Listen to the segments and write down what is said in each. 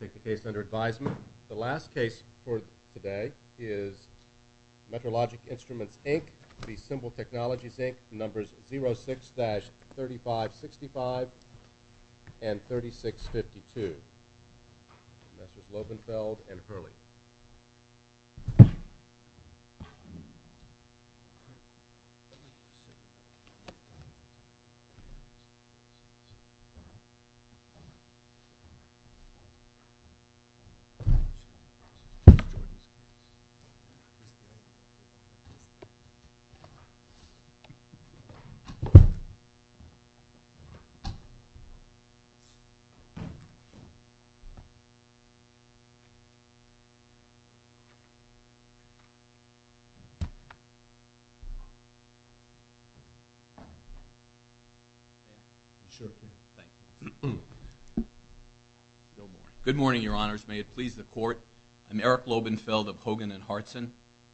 Take the case under advisement. The last case for today is Metrologic Instruments, Inc. v. Symbol Technologies, Inc. Numbers 06-3565 and 3652. Messrs. Lovenfeld and Hurley. Thank you. Good morning, Your Honors. May it please the Court. I'm Eric Lovenfeld of Hogan & Hartson.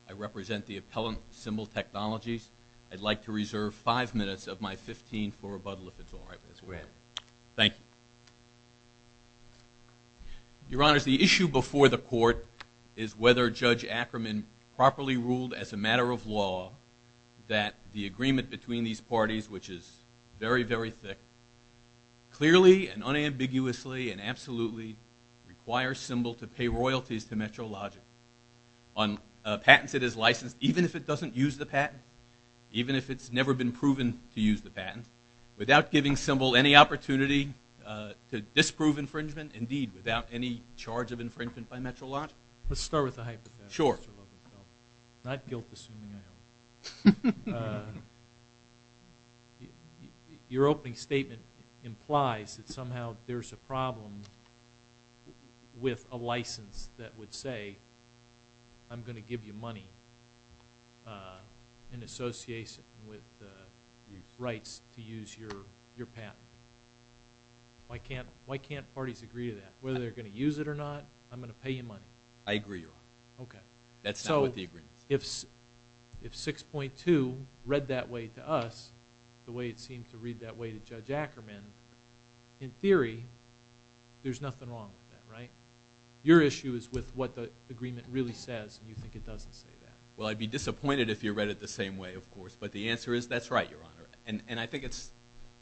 I represent the appellant, Symbol Technologies. I'd like to reserve five minutes of my 15 for rebuttal, if it's all right. Go ahead. Thank you. Your Honors, the issue before the Court is whether Judge Ackerman properly ruled as a matter of law that the agreement between these parties, which is very, very thick, clearly and unambiguously and absolutely requires Symbol to pay royalties to Metrologic on patents it has licensed, even if it doesn't use the patent, even if it's never been proven to use the patent, without giving Symbol any opportunity to disprove infringement, indeed, without any charge of infringement by Metrologic? Let's start with the hypothetical. Sure. Not guilt-assuming, I hope. Your opening statement implies that somehow there's a problem with a license that would say, I'm going to give you money in association with the rights to use your patent. Why can't parties agree to that? Whether they're going to use it or not, I'm going to pay you money. I agree, Your Honor. Okay. That's not what the agreement is. If 6.2 read that way to us, the way it seems to read that way to Judge Ackerman, in theory, there's nothing wrong with that, right? Your issue is with what the agreement really says, and you think it doesn't say that. Well, I'd be disappointed if you read it the same way, of course. But the answer is, that's right, Your Honor. And I think it's,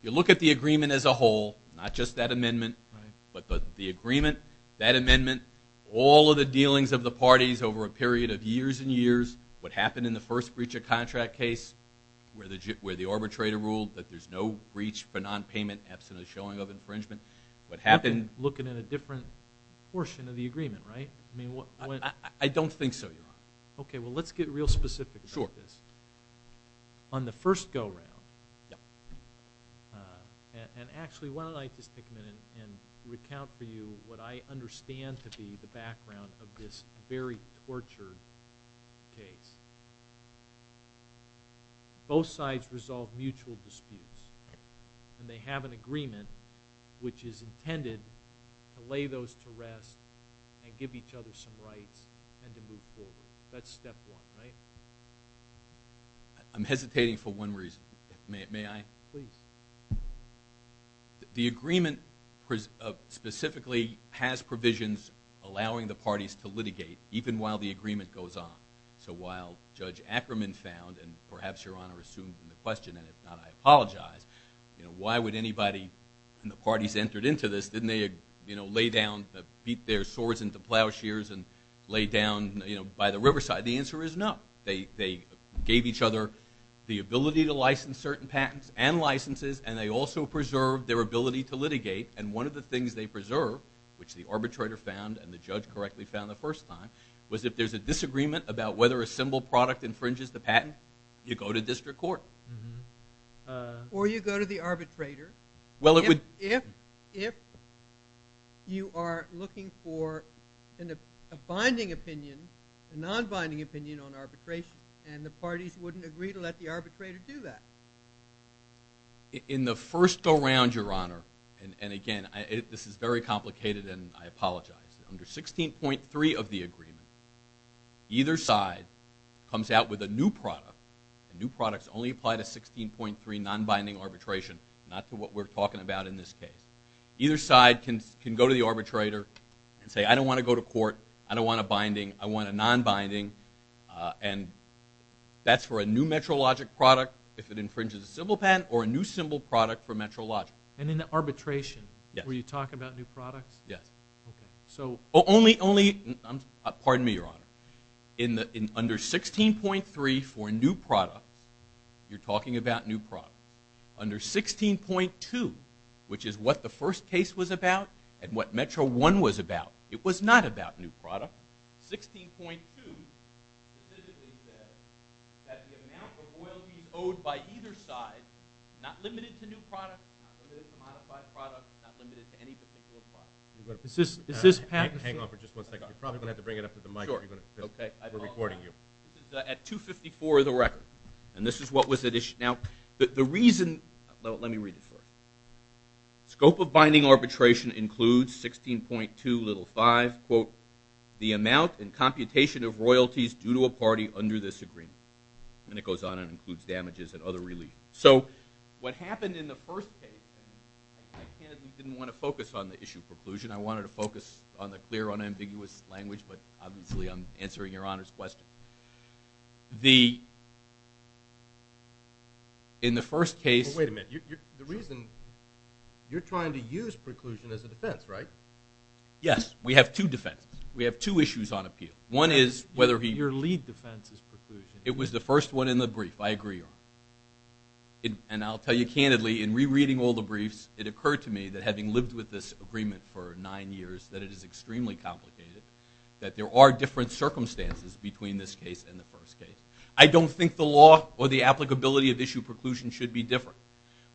you look at the agreement as a whole, not just that amendment, but the agreement, that amendment, all of the dealings of the parties over a period of years and years, what happened in the first breach of contract case where the arbitrator ruled that there's no breach for nonpayment absent a showing of infringement, what happened... Looking at a different portion of the agreement, right? I don't think so, Your Honor. Okay, well, let's get real specific about this. Sure. On the first go-round... Yeah. And actually, why don't I just take a minute and recount for you what I understand to be the background of this very tortured case. Both sides resolve mutual disputes, and they have an agreement which is intended to lay those to rest and give each other some rights and to move forward. That's step one, right? I'm hesitating for one reason. May I? Please. The agreement specifically has provisions allowing the parties to litigate even while the agreement goes on. So while Judge Ackerman found, and perhaps Your Honor assumed in the question, and if not, I apologize, you know, why would anybody when the parties entered into this, didn't they, you know, lay down, beat their swords into plowshares and lay down, you know, by the riverside? The answer is no. They gave each other the ability to license certain patents and licenses, and they also preserved their ability to litigate. And one of the things they preserved, which the arbitrator found and the judge correctly found the first time, was if there's a disagreement about whether a symbol product infringes the patent, you go to district court. Or you go to the arbitrator. Well, it would... If you are looking for a binding opinion, a non-binding opinion on arbitration, and the parties wouldn't agree to let the arbitrator do that. In the first go-round, Your Honor, and again, this is very complicated, and I apologize. Under 16.3 of the agreement, either side comes out with a new product, and new products only apply to 16.3 non-binding arbitration, not to what we're talking about in this case. Either side can go to the arbitrator and say, I don't want to go to court, I don't want a binding, I want a non-binding, and that's for a new metrologic product if it infringes a symbol patent or a new symbol product for metrologic. And in arbitration, where you talk about new products? Yes. So... Only... Pardon me, Your Honor. Under 16.3 for new products, you're talking about new products. Under 16.2, which is what the first case was about and what Metro One was about, it was not about new products. 16.2 specifically says that the amount of royalties owed by either side is not limited to new products, not limited to modified products, not limited to any particular product. Is this... Hang on for just one second. You're probably going to have to bring it up to the mic. Sure, okay. We're recording you. At 254 of the record, and this is what was at issue. Now, the reason... Let me read this for you. Scope of binding arbitration includes 16.2 little 5, quote, the amount and computation of royalties due to a party under this agreement. And it goes on and includes damages and other relief. So what happened in the first case... I didn't want to focus on the issue of preclusion. I wanted to focus on the clear, unambiguous language, but obviously I'm answering Your Honor's question. The... In the first case... Wait a minute. The reason... You're trying to use preclusion as a defense, right? Yes. We have two defenses. We have two issues on appeal. One is whether... Your lead defense is preclusion. It was the first one in the brief. I agree, Your Honor. And I'll tell you candidly, in rereading all the briefs, it occurred to me that having lived with this agreement for nine years, that it is extremely complicated, that there are different circumstances between this case and the first case. I don't think the law or the applicability of issue preclusion should be different.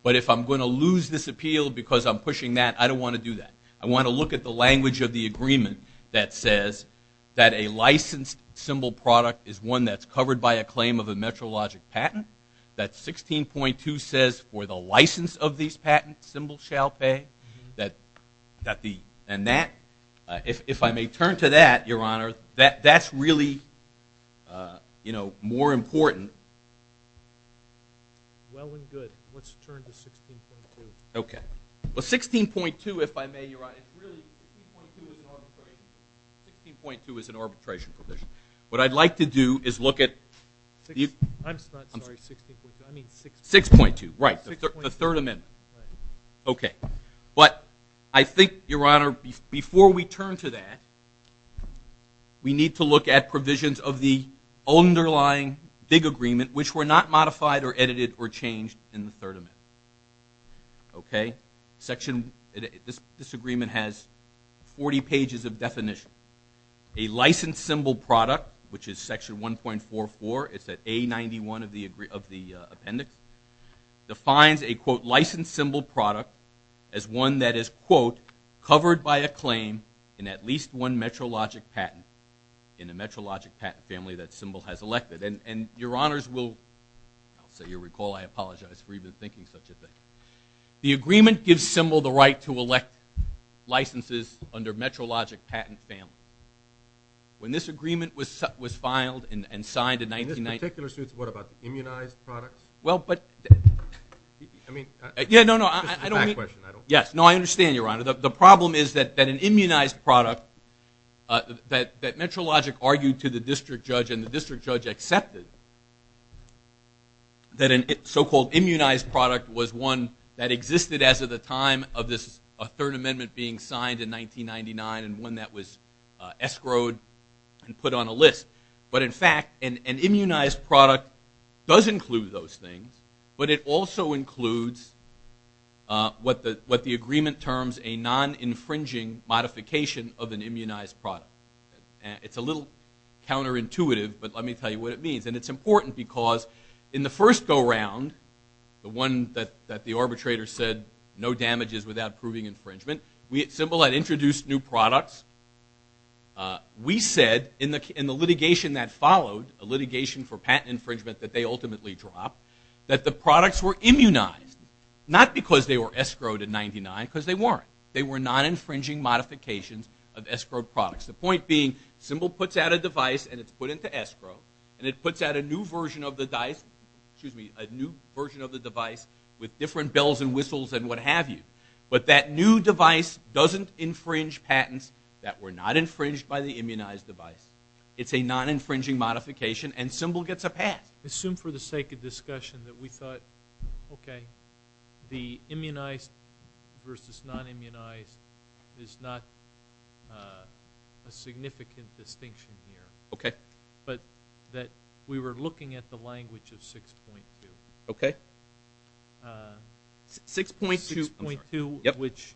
But if I'm going to lose this appeal because I'm pushing that, I don't want to do that. I want to look at the language of the agreement that says that a licensed symbol product is one that's covered by a claim of a MetroLogic patent. That 16.2 says, for the license of these patents, symbols shall pay. That the... And that... If I may turn to that, Your Honor, that's really more important. Well and good. Let's turn to 16.2. Okay. Well, 16.2, if I may, Your Honor, is really... 16.2 is an arbitration provision. 16.2 is an arbitration provision. What I'd like to do is look at... I'm sorry, 16.2. I mean 6.2. 6.2, right. The Third Amendment. Right. Okay. But I think, Your Honor, before we turn to that, we need to look at provisions of the underlying big agreement which were not modified or edited or changed in the Third Amendment. Okay. Section... This agreement has 40 pages of definition. A licensed symbol product, which is Section 1.44, it's at A91 of the appendix, defines a, quote, licensed symbol product as one that is, quote, covered by a claim in at least one metrologic patent in a metrologic patent family that symbol has elected. And Your Honors will... I'll say, you'll recall, I apologize for even thinking such a thing. The agreement gives symbol the right to elect licenses under metrologic patent family. When this agreement was filed and signed in 1990... In this particular suit, it's what, about the immunized products? Well, but... I mean... Yeah, no, no, I don't mean... This is a back question. Yes. No, I understand, Your Honor. The problem is that an immunized product that metrologic argued to the district judge and the district judge accepted that a so-called immunized product was one that existed as of the time of this Third Amendment being signed in 1999 and one that was escrowed and put on a list. But in fact, an immunized product does include those things, but it also includes what the agreement terms a non-infringing modification of an immunized product. It's a little counterintuitive, but let me tell you what it means. And it's important because in the first go-round, the one that the arbitrator said no damages without proving infringement, symbol had introduced new products. We said, in the litigation that followed, a litigation for patent infringement that they ultimately dropped, that the products were immunized, not because they were escrowed in 1999, because they weren't. They were non-infringing modifications of escrowed products. The point being, symbol puts out a device and it's put into escrow, and it puts out a new version of the device with different bells and whistles and what have you. But that new device doesn't infringe patents that were not infringed by the immunized device. It's a non-infringing modification and symbol gets a pass. I assume for the sake of discussion that we thought, okay, the immunized versus non-immunized is not a significant distinction here. Okay. But that we were looking at the language of 6.2. Okay. 6.2, I'm sorry. 6.2, which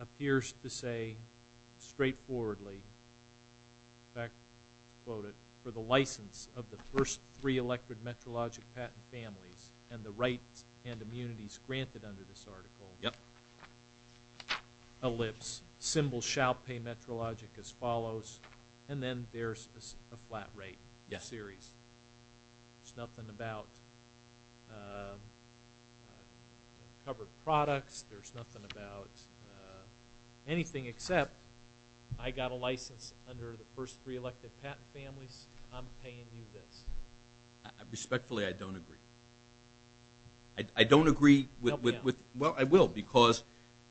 appears to say straightforwardly, quote it, for the license of the first three electric metrologic patent families and the rights and immunities granted under this article. Yep. Ellipse, symbol shall pay metrologic as follows, and then there's a flat rate series. There's nothing about covered products. There's nothing about anything except I got a license under the first three electric patent families. I'm paying you this. Respectfully, I don't agree. I don't agree with... Well, I will because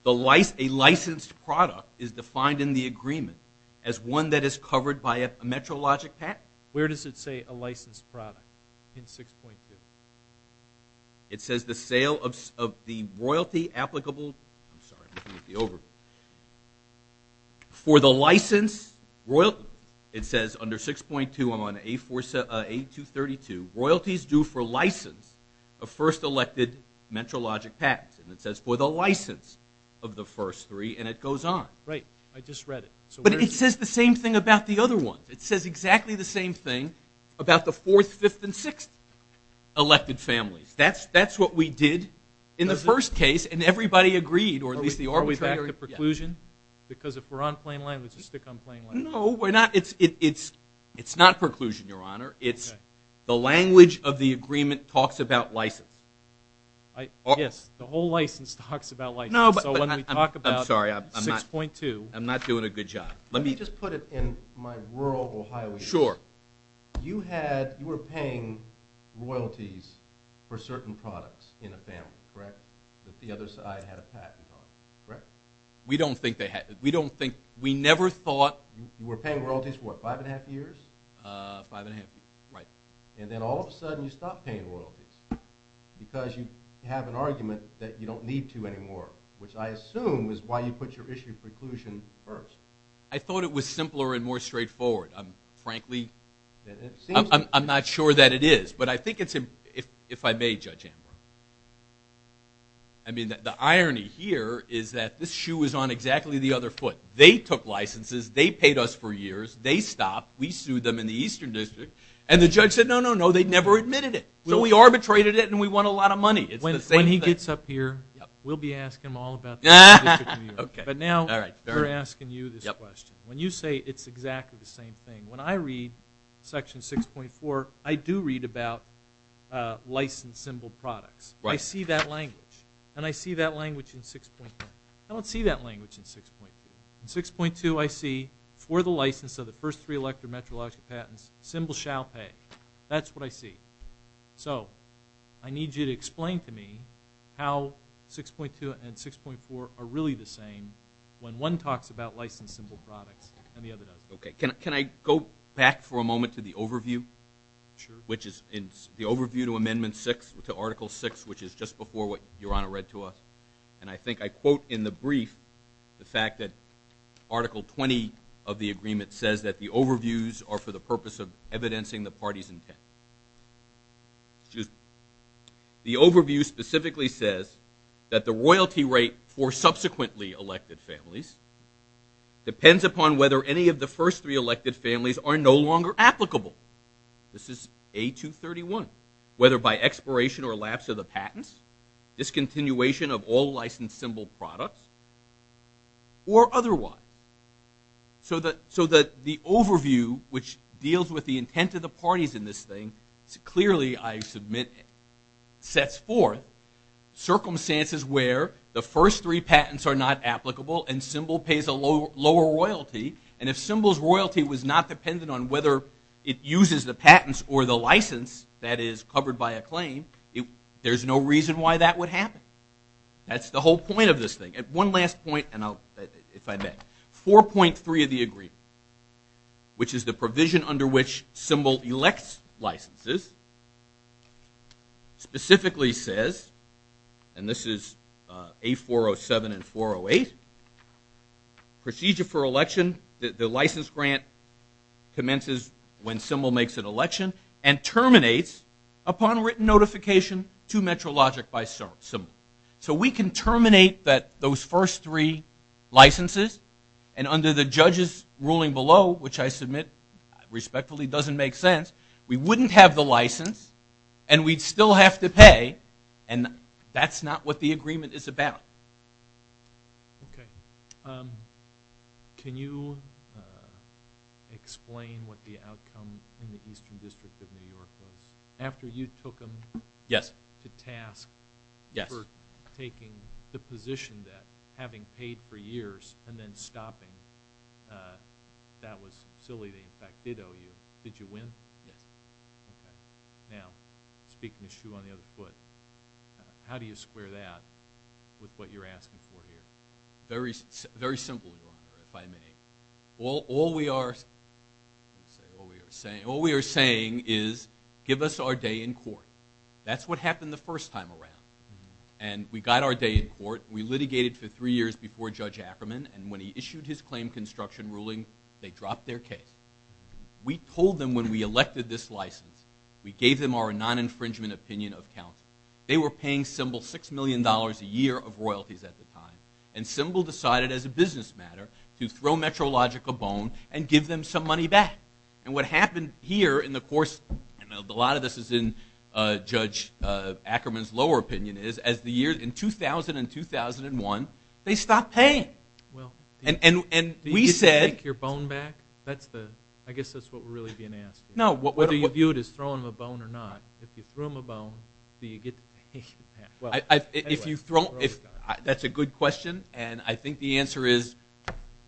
a licensed product is defined in the agreement as one that is covered by a metrologic patent. Where does it say a licensed product in 6.2? It says the sale of the royalty applicable... I'm sorry. For the license royalty, it says under 6.2 on A232, royalties due for license of first elected metrologic patents, and it says for the license of the first three, and it goes on. Right. I just read it. But it says the same thing about the other ones. It says exactly the same thing about the fourth, fifth, and sixth elected families. That's what we did in the first case, and everybody agreed, or at least the arbitrator... Are we back to preclusion? Because if we're on plain language, we stick on plain language. No, we're not. It's not preclusion, Your Honor. It's the language of the agreement talks about license. The whole license talks about license. So when we talk about 6.2... I'm sorry. I'm not doing a good job. Let me just put it in my rural Ohio area. Sure. You were paying royalties for certain products in a family, correct? That the other side had a patent on, correct? We don't think they had... We don't think... We never thought... You were paying royalties for what? Five and a half years? Five and a half years, right. And then all of a sudden, you stop paying royalties because you have an argument that you don't need to anymore, which I assume is why you put your issue of preclusion first. I thought it was simpler and more straightforward. I'm frankly... I'm not sure that it is, but I think it's... If I may, Judge Amber. I mean, the irony here is that this shoe is on exactly the other foot. They took licenses. They paid us for years. They stopped. We sued them in the Eastern District, and the judge said, no, no, no, they never admitted it. So we arbitrated it, and we won a lot of money. It's the same thing. When he gets up here, we'll be asking him all about the Eastern District of New York. But now we're asking you this question. When you say it's exactly the same thing, when I read Section 6.4, I do read about license symbol products. I see that language, and I see that language in 6.10. I don't see that language in 6.2. In 6.2, I see, for the license of the first three electrometrologic patents, symbol shall pay. That's what I see. So I need you to explain to me how 6.2 and 6.4 are really the same when one talks about license symbol products and the other doesn't. Okay. Can I go back for a moment to the overview? Sure. Which is the overview to Amendment 6, to Article 6, which is just before what Your Honor read to us. And I think I quote in the brief the fact that Article 20 of the agreement says that the overviews are for the purpose of evidencing the party's intent. Excuse me. The overview specifically says that the royalty rate for subsequently elected families depends upon whether any of the first three elected families are no longer applicable. This is A231. Whether by expiration or lapse of the patents, discontinuation of all licensed symbol products, or otherwise. So that the overview, which deals with the intent of the parties in this thing, clearly, I submit, sets forth circumstances where the first three patents are not applicable and symbol pays a lower royalty. And if symbol's royalty was not dependent on whether it uses the patents or the license that is covered by a claim, there's no reason why that would happen. That's the whole point of this thing. One last point, and if I may. 4.3 of the agreement, which is the provision under which symbol elects licenses, specifically says, and this is A407 and 408, procedure for election, the license grant commences when symbol makes an election and terminates upon written notification to MetroLogic by symbol. So we can terminate those first three licenses and under the judge's ruling below, which I submit respectfully doesn't make sense, we wouldn't have the license and we'd still have to pay and that's not what the agreement is about. Okay. Can you explain what the outcome in the Eastern District of New York was? After you took them to task for taking the position that having paid for years and then stopping, that was silly, they in fact did owe you. Did you win? Yes. Okay. Now, speaking of shoe on the other foot, how do you square that with what you're asking for here? Very simple, if I may. All we are saying is give us our day in court. That's what happened the first time around. And we got our day in court, we litigated for three years before Judge Ackerman and when he issued his claim construction ruling, they dropped their case. We told them when we elected this license, we gave them our non-infringement opinion of counsel. They were paying Symbol $6 million a year of royalties at the time and Symbol decided as a business matter to throw MetroLogic a bone and give them some money back. And what happened here in the course, a lot of this is in Judge Ackerman's lower opinion, is as the year, in 2000 and 2001, they stopped paying. And we said... Did you get to take your bone back? I guess that's what we're really being asked here. Whether you view it as throwing them a bone or not. If you threw them a bone, do you get to pay them back? That's a good question and I think the answer is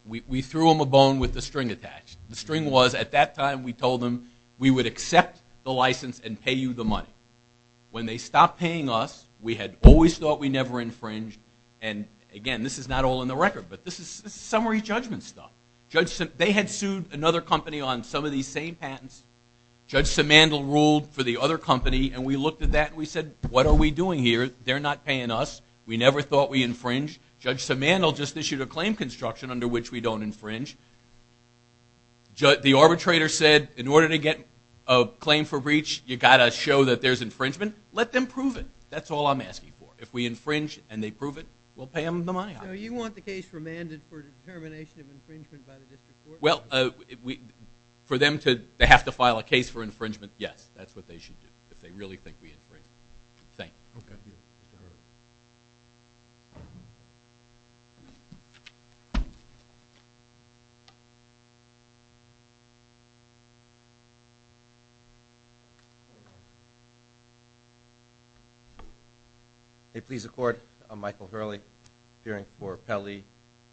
we threw them a bone with the string attached. The string was, at that time, we told them we would accept the license and pay you the money. When they stopped paying us, we had always thought we never infringed and again, this is not all in the record, but this is summary judgment stuff. They had sued another company on some of these same patents. Judge Simandl ruled for the other company and we looked at that and we said, what are we doing here? They're not paying us. We never thought we'd infringe. Judge Simandl just issued a claim construction under which we don't infringe. The arbitrator said, in order to get a claim for breach, you gotta show that there's infringement. Let them prove it. That's all I'm asking for. If we infringe and they prove it, we'll pay them the money. You want the case remanded for determination of infringement by the district court? For them to have to file a case for infringement, yes, that's what they should do if they really think we infringed. Thank you. Thank you. May it please the court, I'm Michael Hurley appearing for Pelley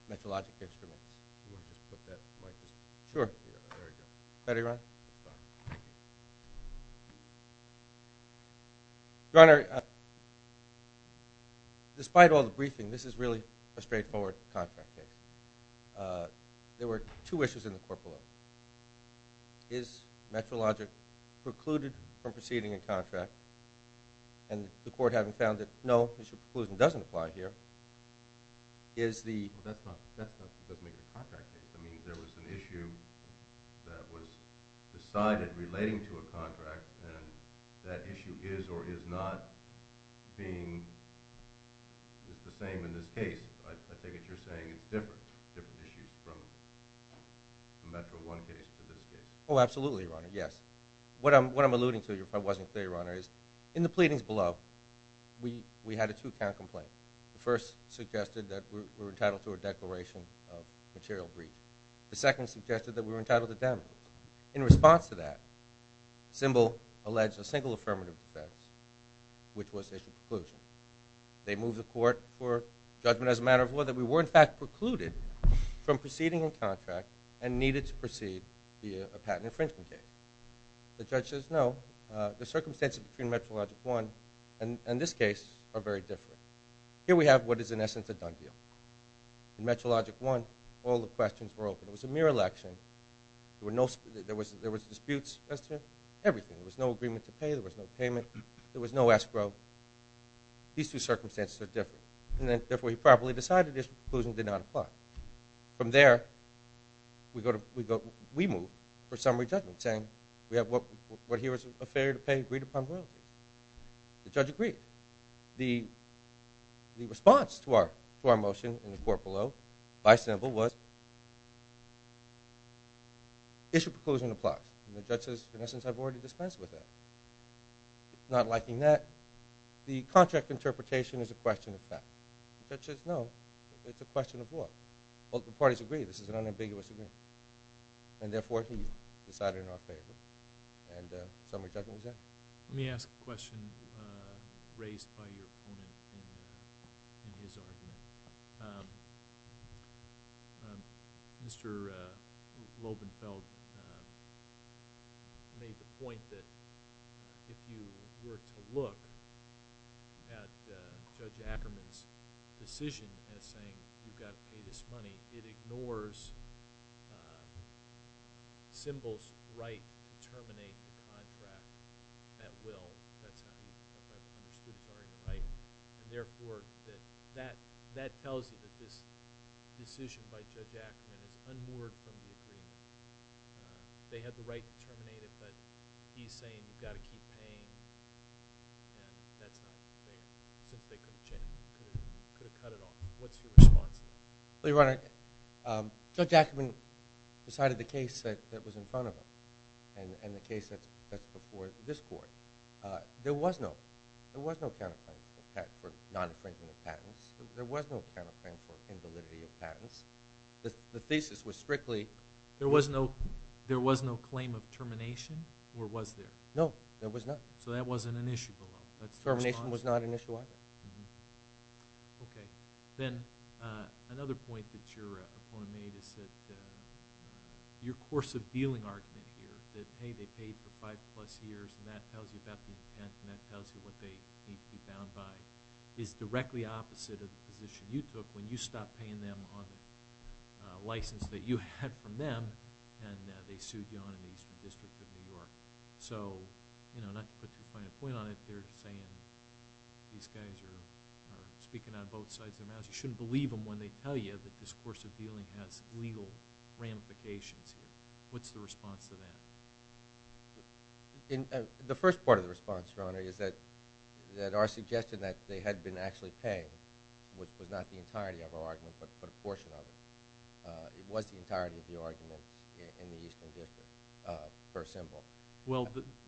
Metallurgical Instruments. Sure. Ready, Ron? Ron. Your Honor, despite all the briefing, this is really a straightforward contract case. There were two issues in the court below. Is Metallurgical precluded from proceeding a contract and the court having found that no, the preclusion doesn't apply here, is the... I mean, there was an issue that was decided relating to a contract and that issue is or is not being the same in this case. I take it you're saying it's different, different issues from Metro One case to this case. Oh, absolutely, Your Honor, yes. What I'm alluding to, if I wasn't clear, Your Honor, is in the pleadings below we had a two-count complaint. The first suggested that we're entitled to a declaration of and the second suggested that we're entitled to damages. In response to that, Symbol alleged a single affirmative defense, which was a preclusion. They moved the court for judgment as a matter of law that we were in fact precluded from proceeding a contract and needed to proceed via a patent infringement case. The judge says no. The circumstances between Metro Logic One and this case are very different. Here we have what is in essence a done deal. In Metro Logic One, all the questions were open. It was a mere election. There was disputes, everything. There was no agreement to pay. There was no payment. There was no escrow. These two circumstances are different. Therefore, he properly decided this preclusion did not apply. From there, we move for summary judgment saying we have what here is a failure to pay agreed upon rule. The judge agreed. The response to our motion in the court below by Symbol was issue preclusion applies. The judge says, in essence, I've already dispensed with that. Not liking that, the contract interpretation is a question of fact. The judge says, no, it's a question of law. Both parties agree this is an unambiguous agreement. Therefore, he decided not to pay. Summary judgment is that. Let me ask a question raised by your opponent in his argument. Mr. Lobenfeld made the point that if you were to look at Judge Ackerman's decision as saying you've got to pay this money, it ignores Symbol's right to terminate the contract at will. That's not what he said. Therefore, that tells you that this decision by Judge Ackerman is unmoored from the agreement. They had the right to terminate it, but he's saying you've got to keep paying. That's not fair. They could have cut it off. What's your response to that? Judge Ackerman decided the case that was in front of him and the case that's before this court. There was no counterclaim for non-infringement patents. There was no counterclaim for invalidity of patents. The thesis was strictly... There was no claim of termination, or was there? No, there was not. So that wasn't an issue below. Termination was not an issue either. Okay. Then, another point that your opponent made is that your course of dealing argument here, that, hey, they paid for five plus years, and that tells you about the intent, and that tells you what they need to be bound by, is directly opposite of the position you took when you stopped paying them on a license that you had from them, and they sued you on an Eastern District of New York. Not to put too fine a point on it, they're saying these guys are speaking on both sides of the mouse. You shouldn't believe them when they tell you that this course of dealing has legal ramifications here. What's the response to that? The first part of the response, Your Honor, is that our suggestion that they had been actually paying, which was not the entirety of our argument, but a portion of it. It was the entirety of the argument in the Eastern District, for a symbol.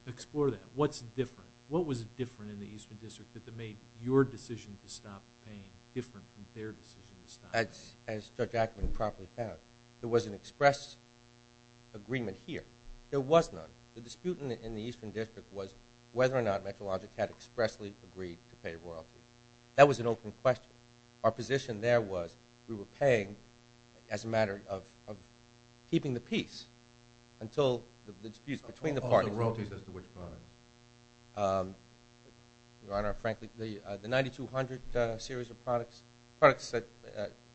Explore that. What's different? What was different in the Eastern District that made your decision to stop paying different than their decision to stop paying? As Judge Ackman properly found, there was an express agreement here. There was none. The dispute in the Eastern District was whether or not McElodic had expressly agreed to pay royalties. That was an open question. Our position there was we were paying as a matter of keeping the peace until the disputes between the parties. Of the royalties as to which products? Your Honor, frankly, the 9200 series of products that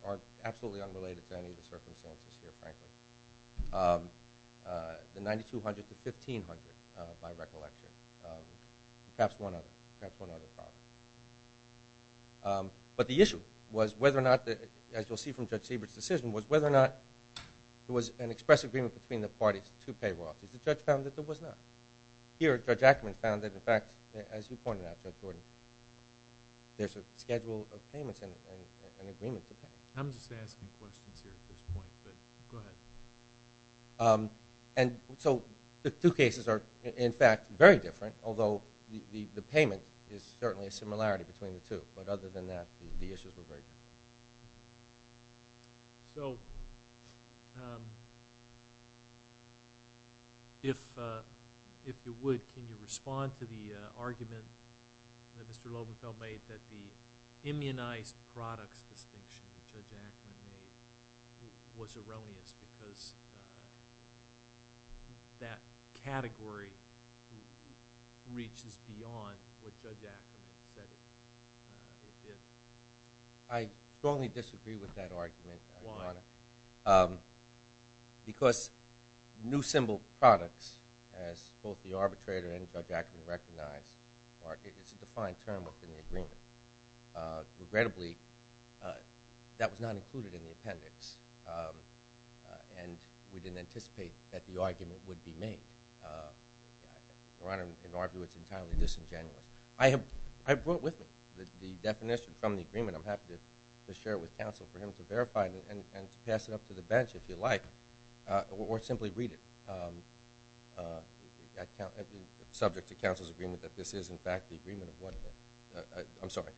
are absolutely unrelated to any of the circumstances here, frankly. The 9200 to 1500 by recollection. Perhaps one other. Perhaps one other problem. But the issue was whether or not as you'll see from Judge Siebert's decision, was whether or not there was an express agreement between the parties to pay royalties. The judge found that there was not. Here, Judge Ackman found that, in fact, as you pointed out, Judge Gordon, there's a schedule of payments and an agreement to pay. I'm just asking questions here at this point, but go ahead. The two cases are, in fact, very different, although the payment is certainly a similarity between the two. But other than that, the issues were very different. If you would, can you respond to the argument that Mr. Lobenfell made that the immunized products distinction that Judge Ackman made was erroneous because that category reaches beyond what Judge Ackman said it did. I strongly disagree with that argument, Your Honor. Why? Because new symbol products, as both the arbitrator and Judge Ackman recognized, it's a defined term within the agreement. Regrettably, that was not included in the appendix, and we didn't anticipate that the argument would be made. Your Honor, an argument entirely disingenuous. I have brought with me the definition from the agreement. I'm happy to share it with counsel for him to verify it and to pass it up to the bench, if you like, or simply read it subject to counsel's agreement that this is, in fact, the agreement of what I'm sorry,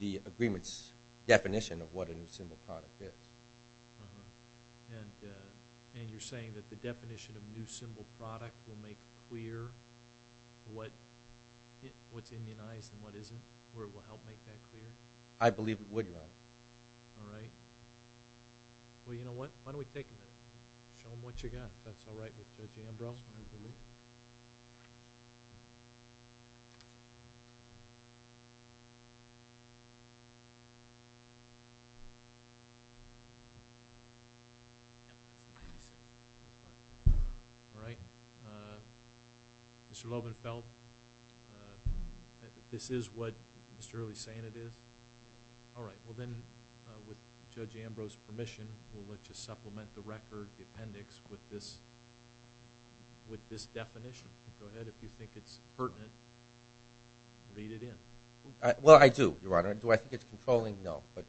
the agreement's definition of what a new symbol product is. And you're saying that the definition of a new symbol product will make clear what's immunized and what isn't, or it will help make that clear? I believe it would, Your Honor. All right. Well, you know what? Why don't we take a minute? Show them what you got. If that's all right with J.M. Brosman. All right. Mr. Lovenfeld, this is what Mr. Early's saying it is. All right. Well, then with Judge Ambrose's permission, we'll let you supplement the record, the appendix with this definition. Go ahead. If you think it's pertinent, read it in. Well, I do, Your Honor. Do I think it's controlling? No. But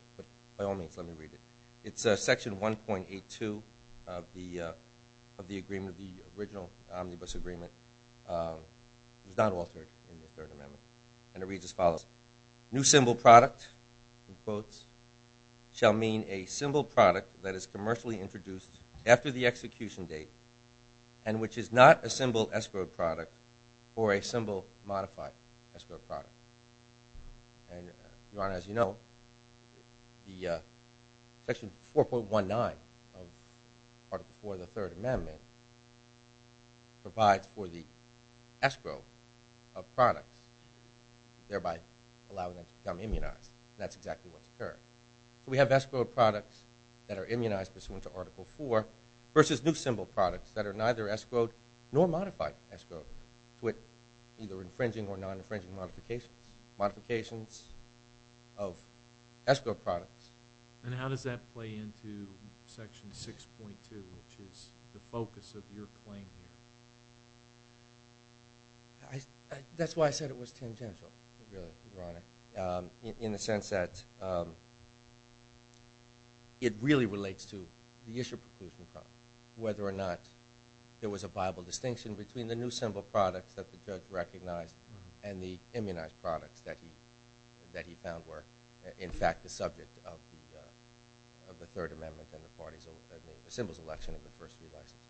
by all means, let me read it. It's section 1.82 of the original omnibus agreement. It was not altered in the Third Amendment. And it just follows. New symbol product in quotes shall mean a symbol product that is commercially introduced after the execution date and which is not a symbol escrow product or a symbol modified escrow product. And Your Honor, as you know, the section 4.19 of Article 4 of the Third Amendment provides for the escrow of products thereby allowing them to become immunized. And that's exactly what's occurred. We have escrowed products that are immunized pursuant to Article 4 versus new symbol products that are neither escrowed nor modified escrowed with either infringing or non-infringing modifications of escrow products. And how does that play into section 6.2, which is the focus of your claim here? That's why I said it was tangential, Your Honor, in the sense that it really relates to the issue of whether or not there was a viable distinction between the new symbol products that the judge recognized and the immunized products that he found were in fact the subject of the Third Amendment and the party's symbol's election in the first few elections.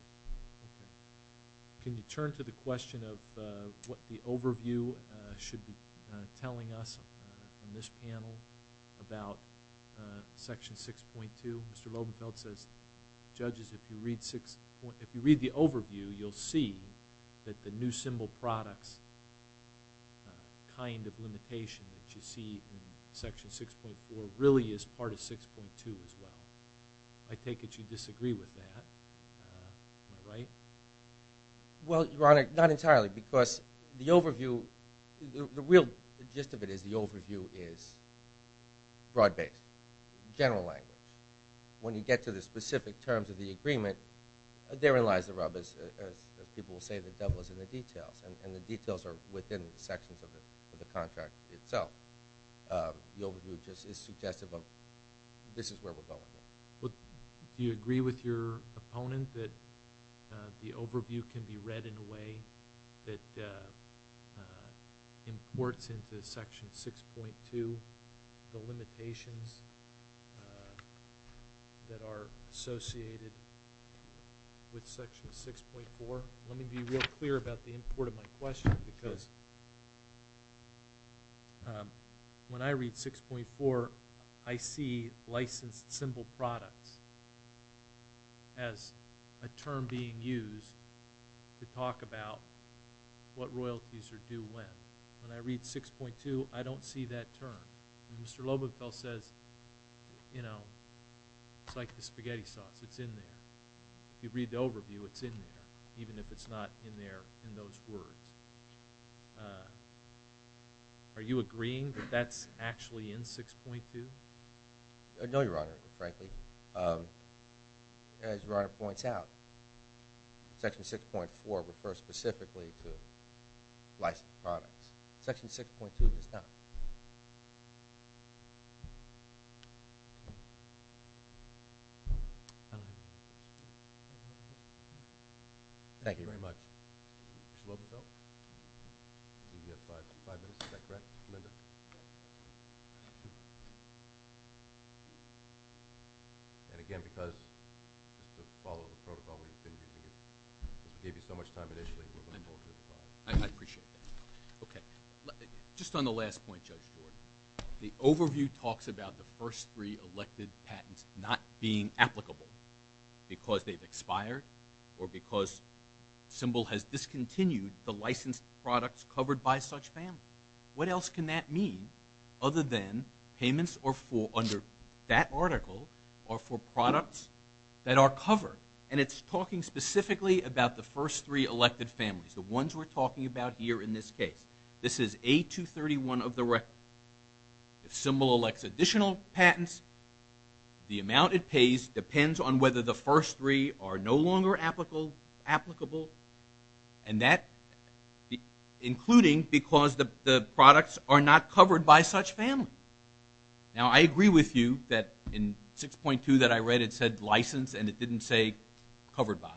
Okay. Can you turn to the question of what the overview should be telling us on this panel about section 6.2? Mr. Lobenfeld says, judges, if you read the overview, you'll see that the new symbol products kind of limitation that you see in section 6.4 really is part of 6.2 as well. I take it you disagree with that. Am I right? Well, Your Honor, not entirely because the overview the real gist of it is the overview is broad-based, general language. When you get to the specific terms of the agreement, therein lies the rub. People will say the devil is in the details and the details are within the sections of the contract itself. The overview just is suggestive of this is where we're going. Do you agree with your opponent that the overview can be read in a way that imports into section 6.2 the limitations that are associated with section 6.4? Let me be real clear about the import of my question because when I read 6.4 I see licensed symbol products as a term being used to talk about what royalties are due when. When I read 6.2 I don't see that term. Mr. Lobenfell says, you know, it's like the spaghetti sauce. It's in there. If you read the overview, it's in there even if it's not in there in those words. Are you agreeing that that's actually in 6.2? No, Your Honor. Frankly, as Your Honor points out, section 6.4 refers specifically to licensed products. Section 6.2 does not. Thank you. Thank you very much. Mr. Lobenfell, you have five minutes. Is that correct, Linda? And again, because of the protocol we've been using, this gave you so much time initially. I appreciate that. Okay. Just on the last point, Judge Floyd, the overview talks about the first three elected patents not being applicable because they've expired or because Symbol has discontinued the licensed products covered by such families. What else can that mean other than payments under that article are for products that are covered? And it's talking specifically about the first three elected families, the ones we're talking about here in this case. This is A231 of the record. If Symbol elects additional patents, the amount it pays depends on whether the first three are no longer applicable and that including because the products are not covered by such families. Now, I agree with you that in 6.2 that I read it said licensed and it didn't say covered by.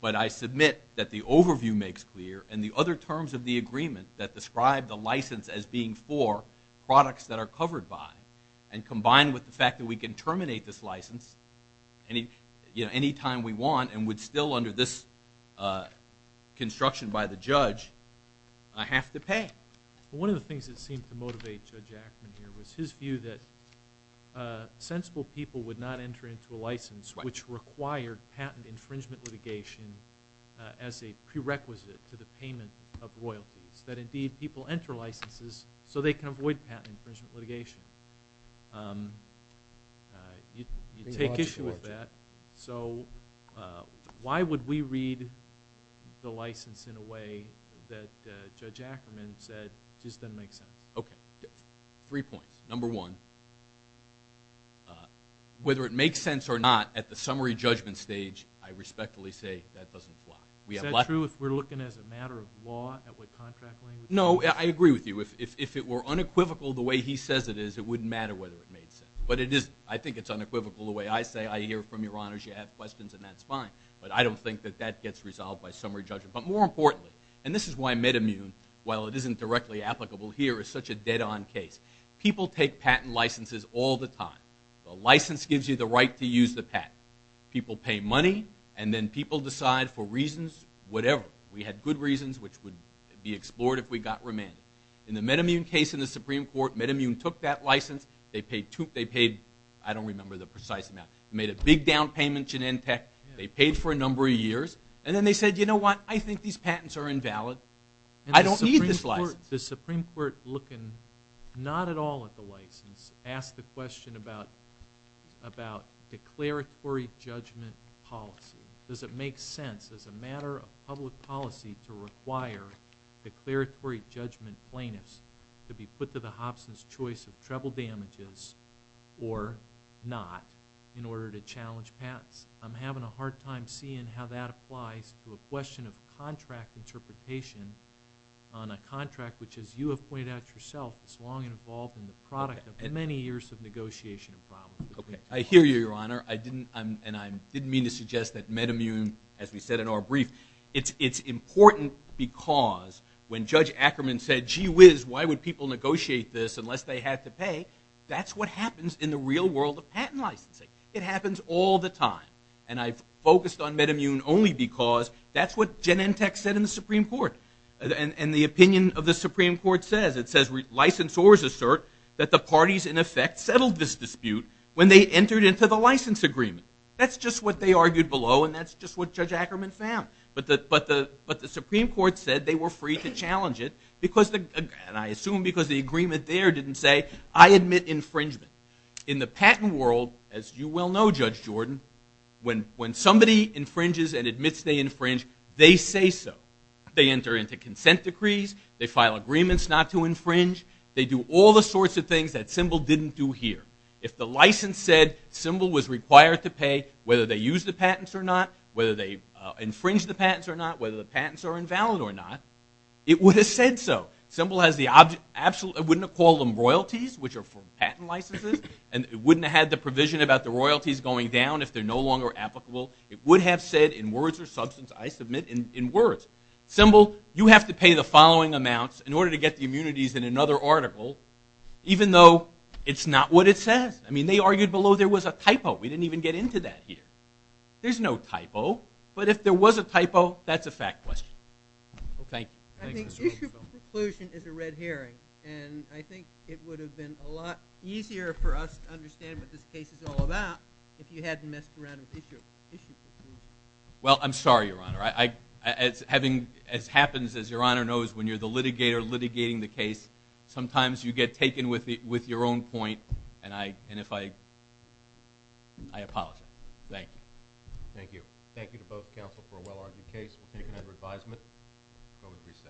But I submit that the overview makes clear and the other terms of the agreement that describe the license as being for products that are covered by and combined with the fact that we can terminate this license anytime we want and would still under this construction by the judge, I have to pay. One of the things that seemed to motivate Judge Ackman here was his view that sensible people would not enter into a license which required patent infringement litigation as a prerequisite to the payment of royalties. That indeed people enter licenses so they can avoid patent infringement litigation. You take issue with that. Why would we read the license in a way that Judge Ackman said just doesn't make sense? Three points. Number one, whether it makes sense or not at the summary judgment stage, I respectfully say that doesn't apply. Is that true if we're looking as a matter of law at what contract language? No, I agree with you. If it were unequivocal the way he says it is, it wouldn't matter whether it made sense. I think it's unequivocal the way I say. I hear from your honors. You have questions and that's fine. But I don't think that that gets resolved by summary judgment. But more importantly, and this is why MedImmune, while it isn't directly applicable here, is such a dead on case. People take patent licenses all the time. The license gives you the right to use the patent. People pay money and then people decide for reasons, whatever. We had good reasons, which would be explored if we got remanded. In the MedImmune case in the Supreme Court, MedImmune took that license. They paid, I don't remember the precise amount. They made a big down payment to Genentech. They paid for a number of years. And then they said, you know what, I think these patents are invalid. I don't need this license. Does the Supreme Court, looking not at all at the license, ask the question about declaratory judgment policy? Does it make sense as a matter of public policy to require declaratory judgment plaintiffs to be put to the Hobson's choice of treble damages or not in order to challenge patents? I'm having a hard time seeing how that applies to a question of contract interpretation on a contract, which as you have pointed out yourself, is long involved in the product of many years of negotiation. I hear you, Your Honor. I didn't mean to suggest that MedImmune, as we said in our brief, it's important because when Judge Ackerman said, gee whiz, why would people negotiate this unless they had to pay? That's what happens in the real world of patent licensing. It happens all the time. And I've focused on MedImmune only because that's what Genentech said in the Supreme Court. And the opinion of the Supreme Court says, it says, licensors assert that the parties in effect settled this dispute when they entered into the license agreement. That's just what they argued below, and that's just what Judge Ackerman found. But the Supreme Court said they were free to challenge it because, and I assume because the agreement there didn't say, I admit infringement. In the patent world, as you well know, Judge Jordan, when somebody infringes and admits they infringe, they say so. They enter into consent decrees, they file agreements not to infringe, they do all the sorts of things that Symbol didn't do here. If the license said Symbol was required to pay whether they use the patents or not, whether they infringe the patents or not, whether the patents are invalid or not, it would have said so. Symbol has the absolute, I wouldn't have called them royalties, which are for patent licenses, and it wouldn't have had the provision about the royalties going down if they're no longer applicable. It would have said, in words or substance, I submit, in words, Symbol, you have to pay the following amounts in order to get the immunities in another article, even though it's not what it says. I mean, they argued below there was a typo. We didn't even get into that here. There's no typo, but if there was a typo, that's a fact question. Okay, thanks. Conclusion is a red herring, and I think it would have been a lot easier for us to understand what this case is all about if you hadn't messed around with issues. Well, I'm sorry, Your Honor. As happens, as Your Honor knows, when you're the litigator litigating the case, sometimes you get taken with your own point, and if I... I apologize. Thank you. Thank you. Thank you to both counsel for a well-argued case. We'll take it under advisement. We'll go to recess. Recess. Recess.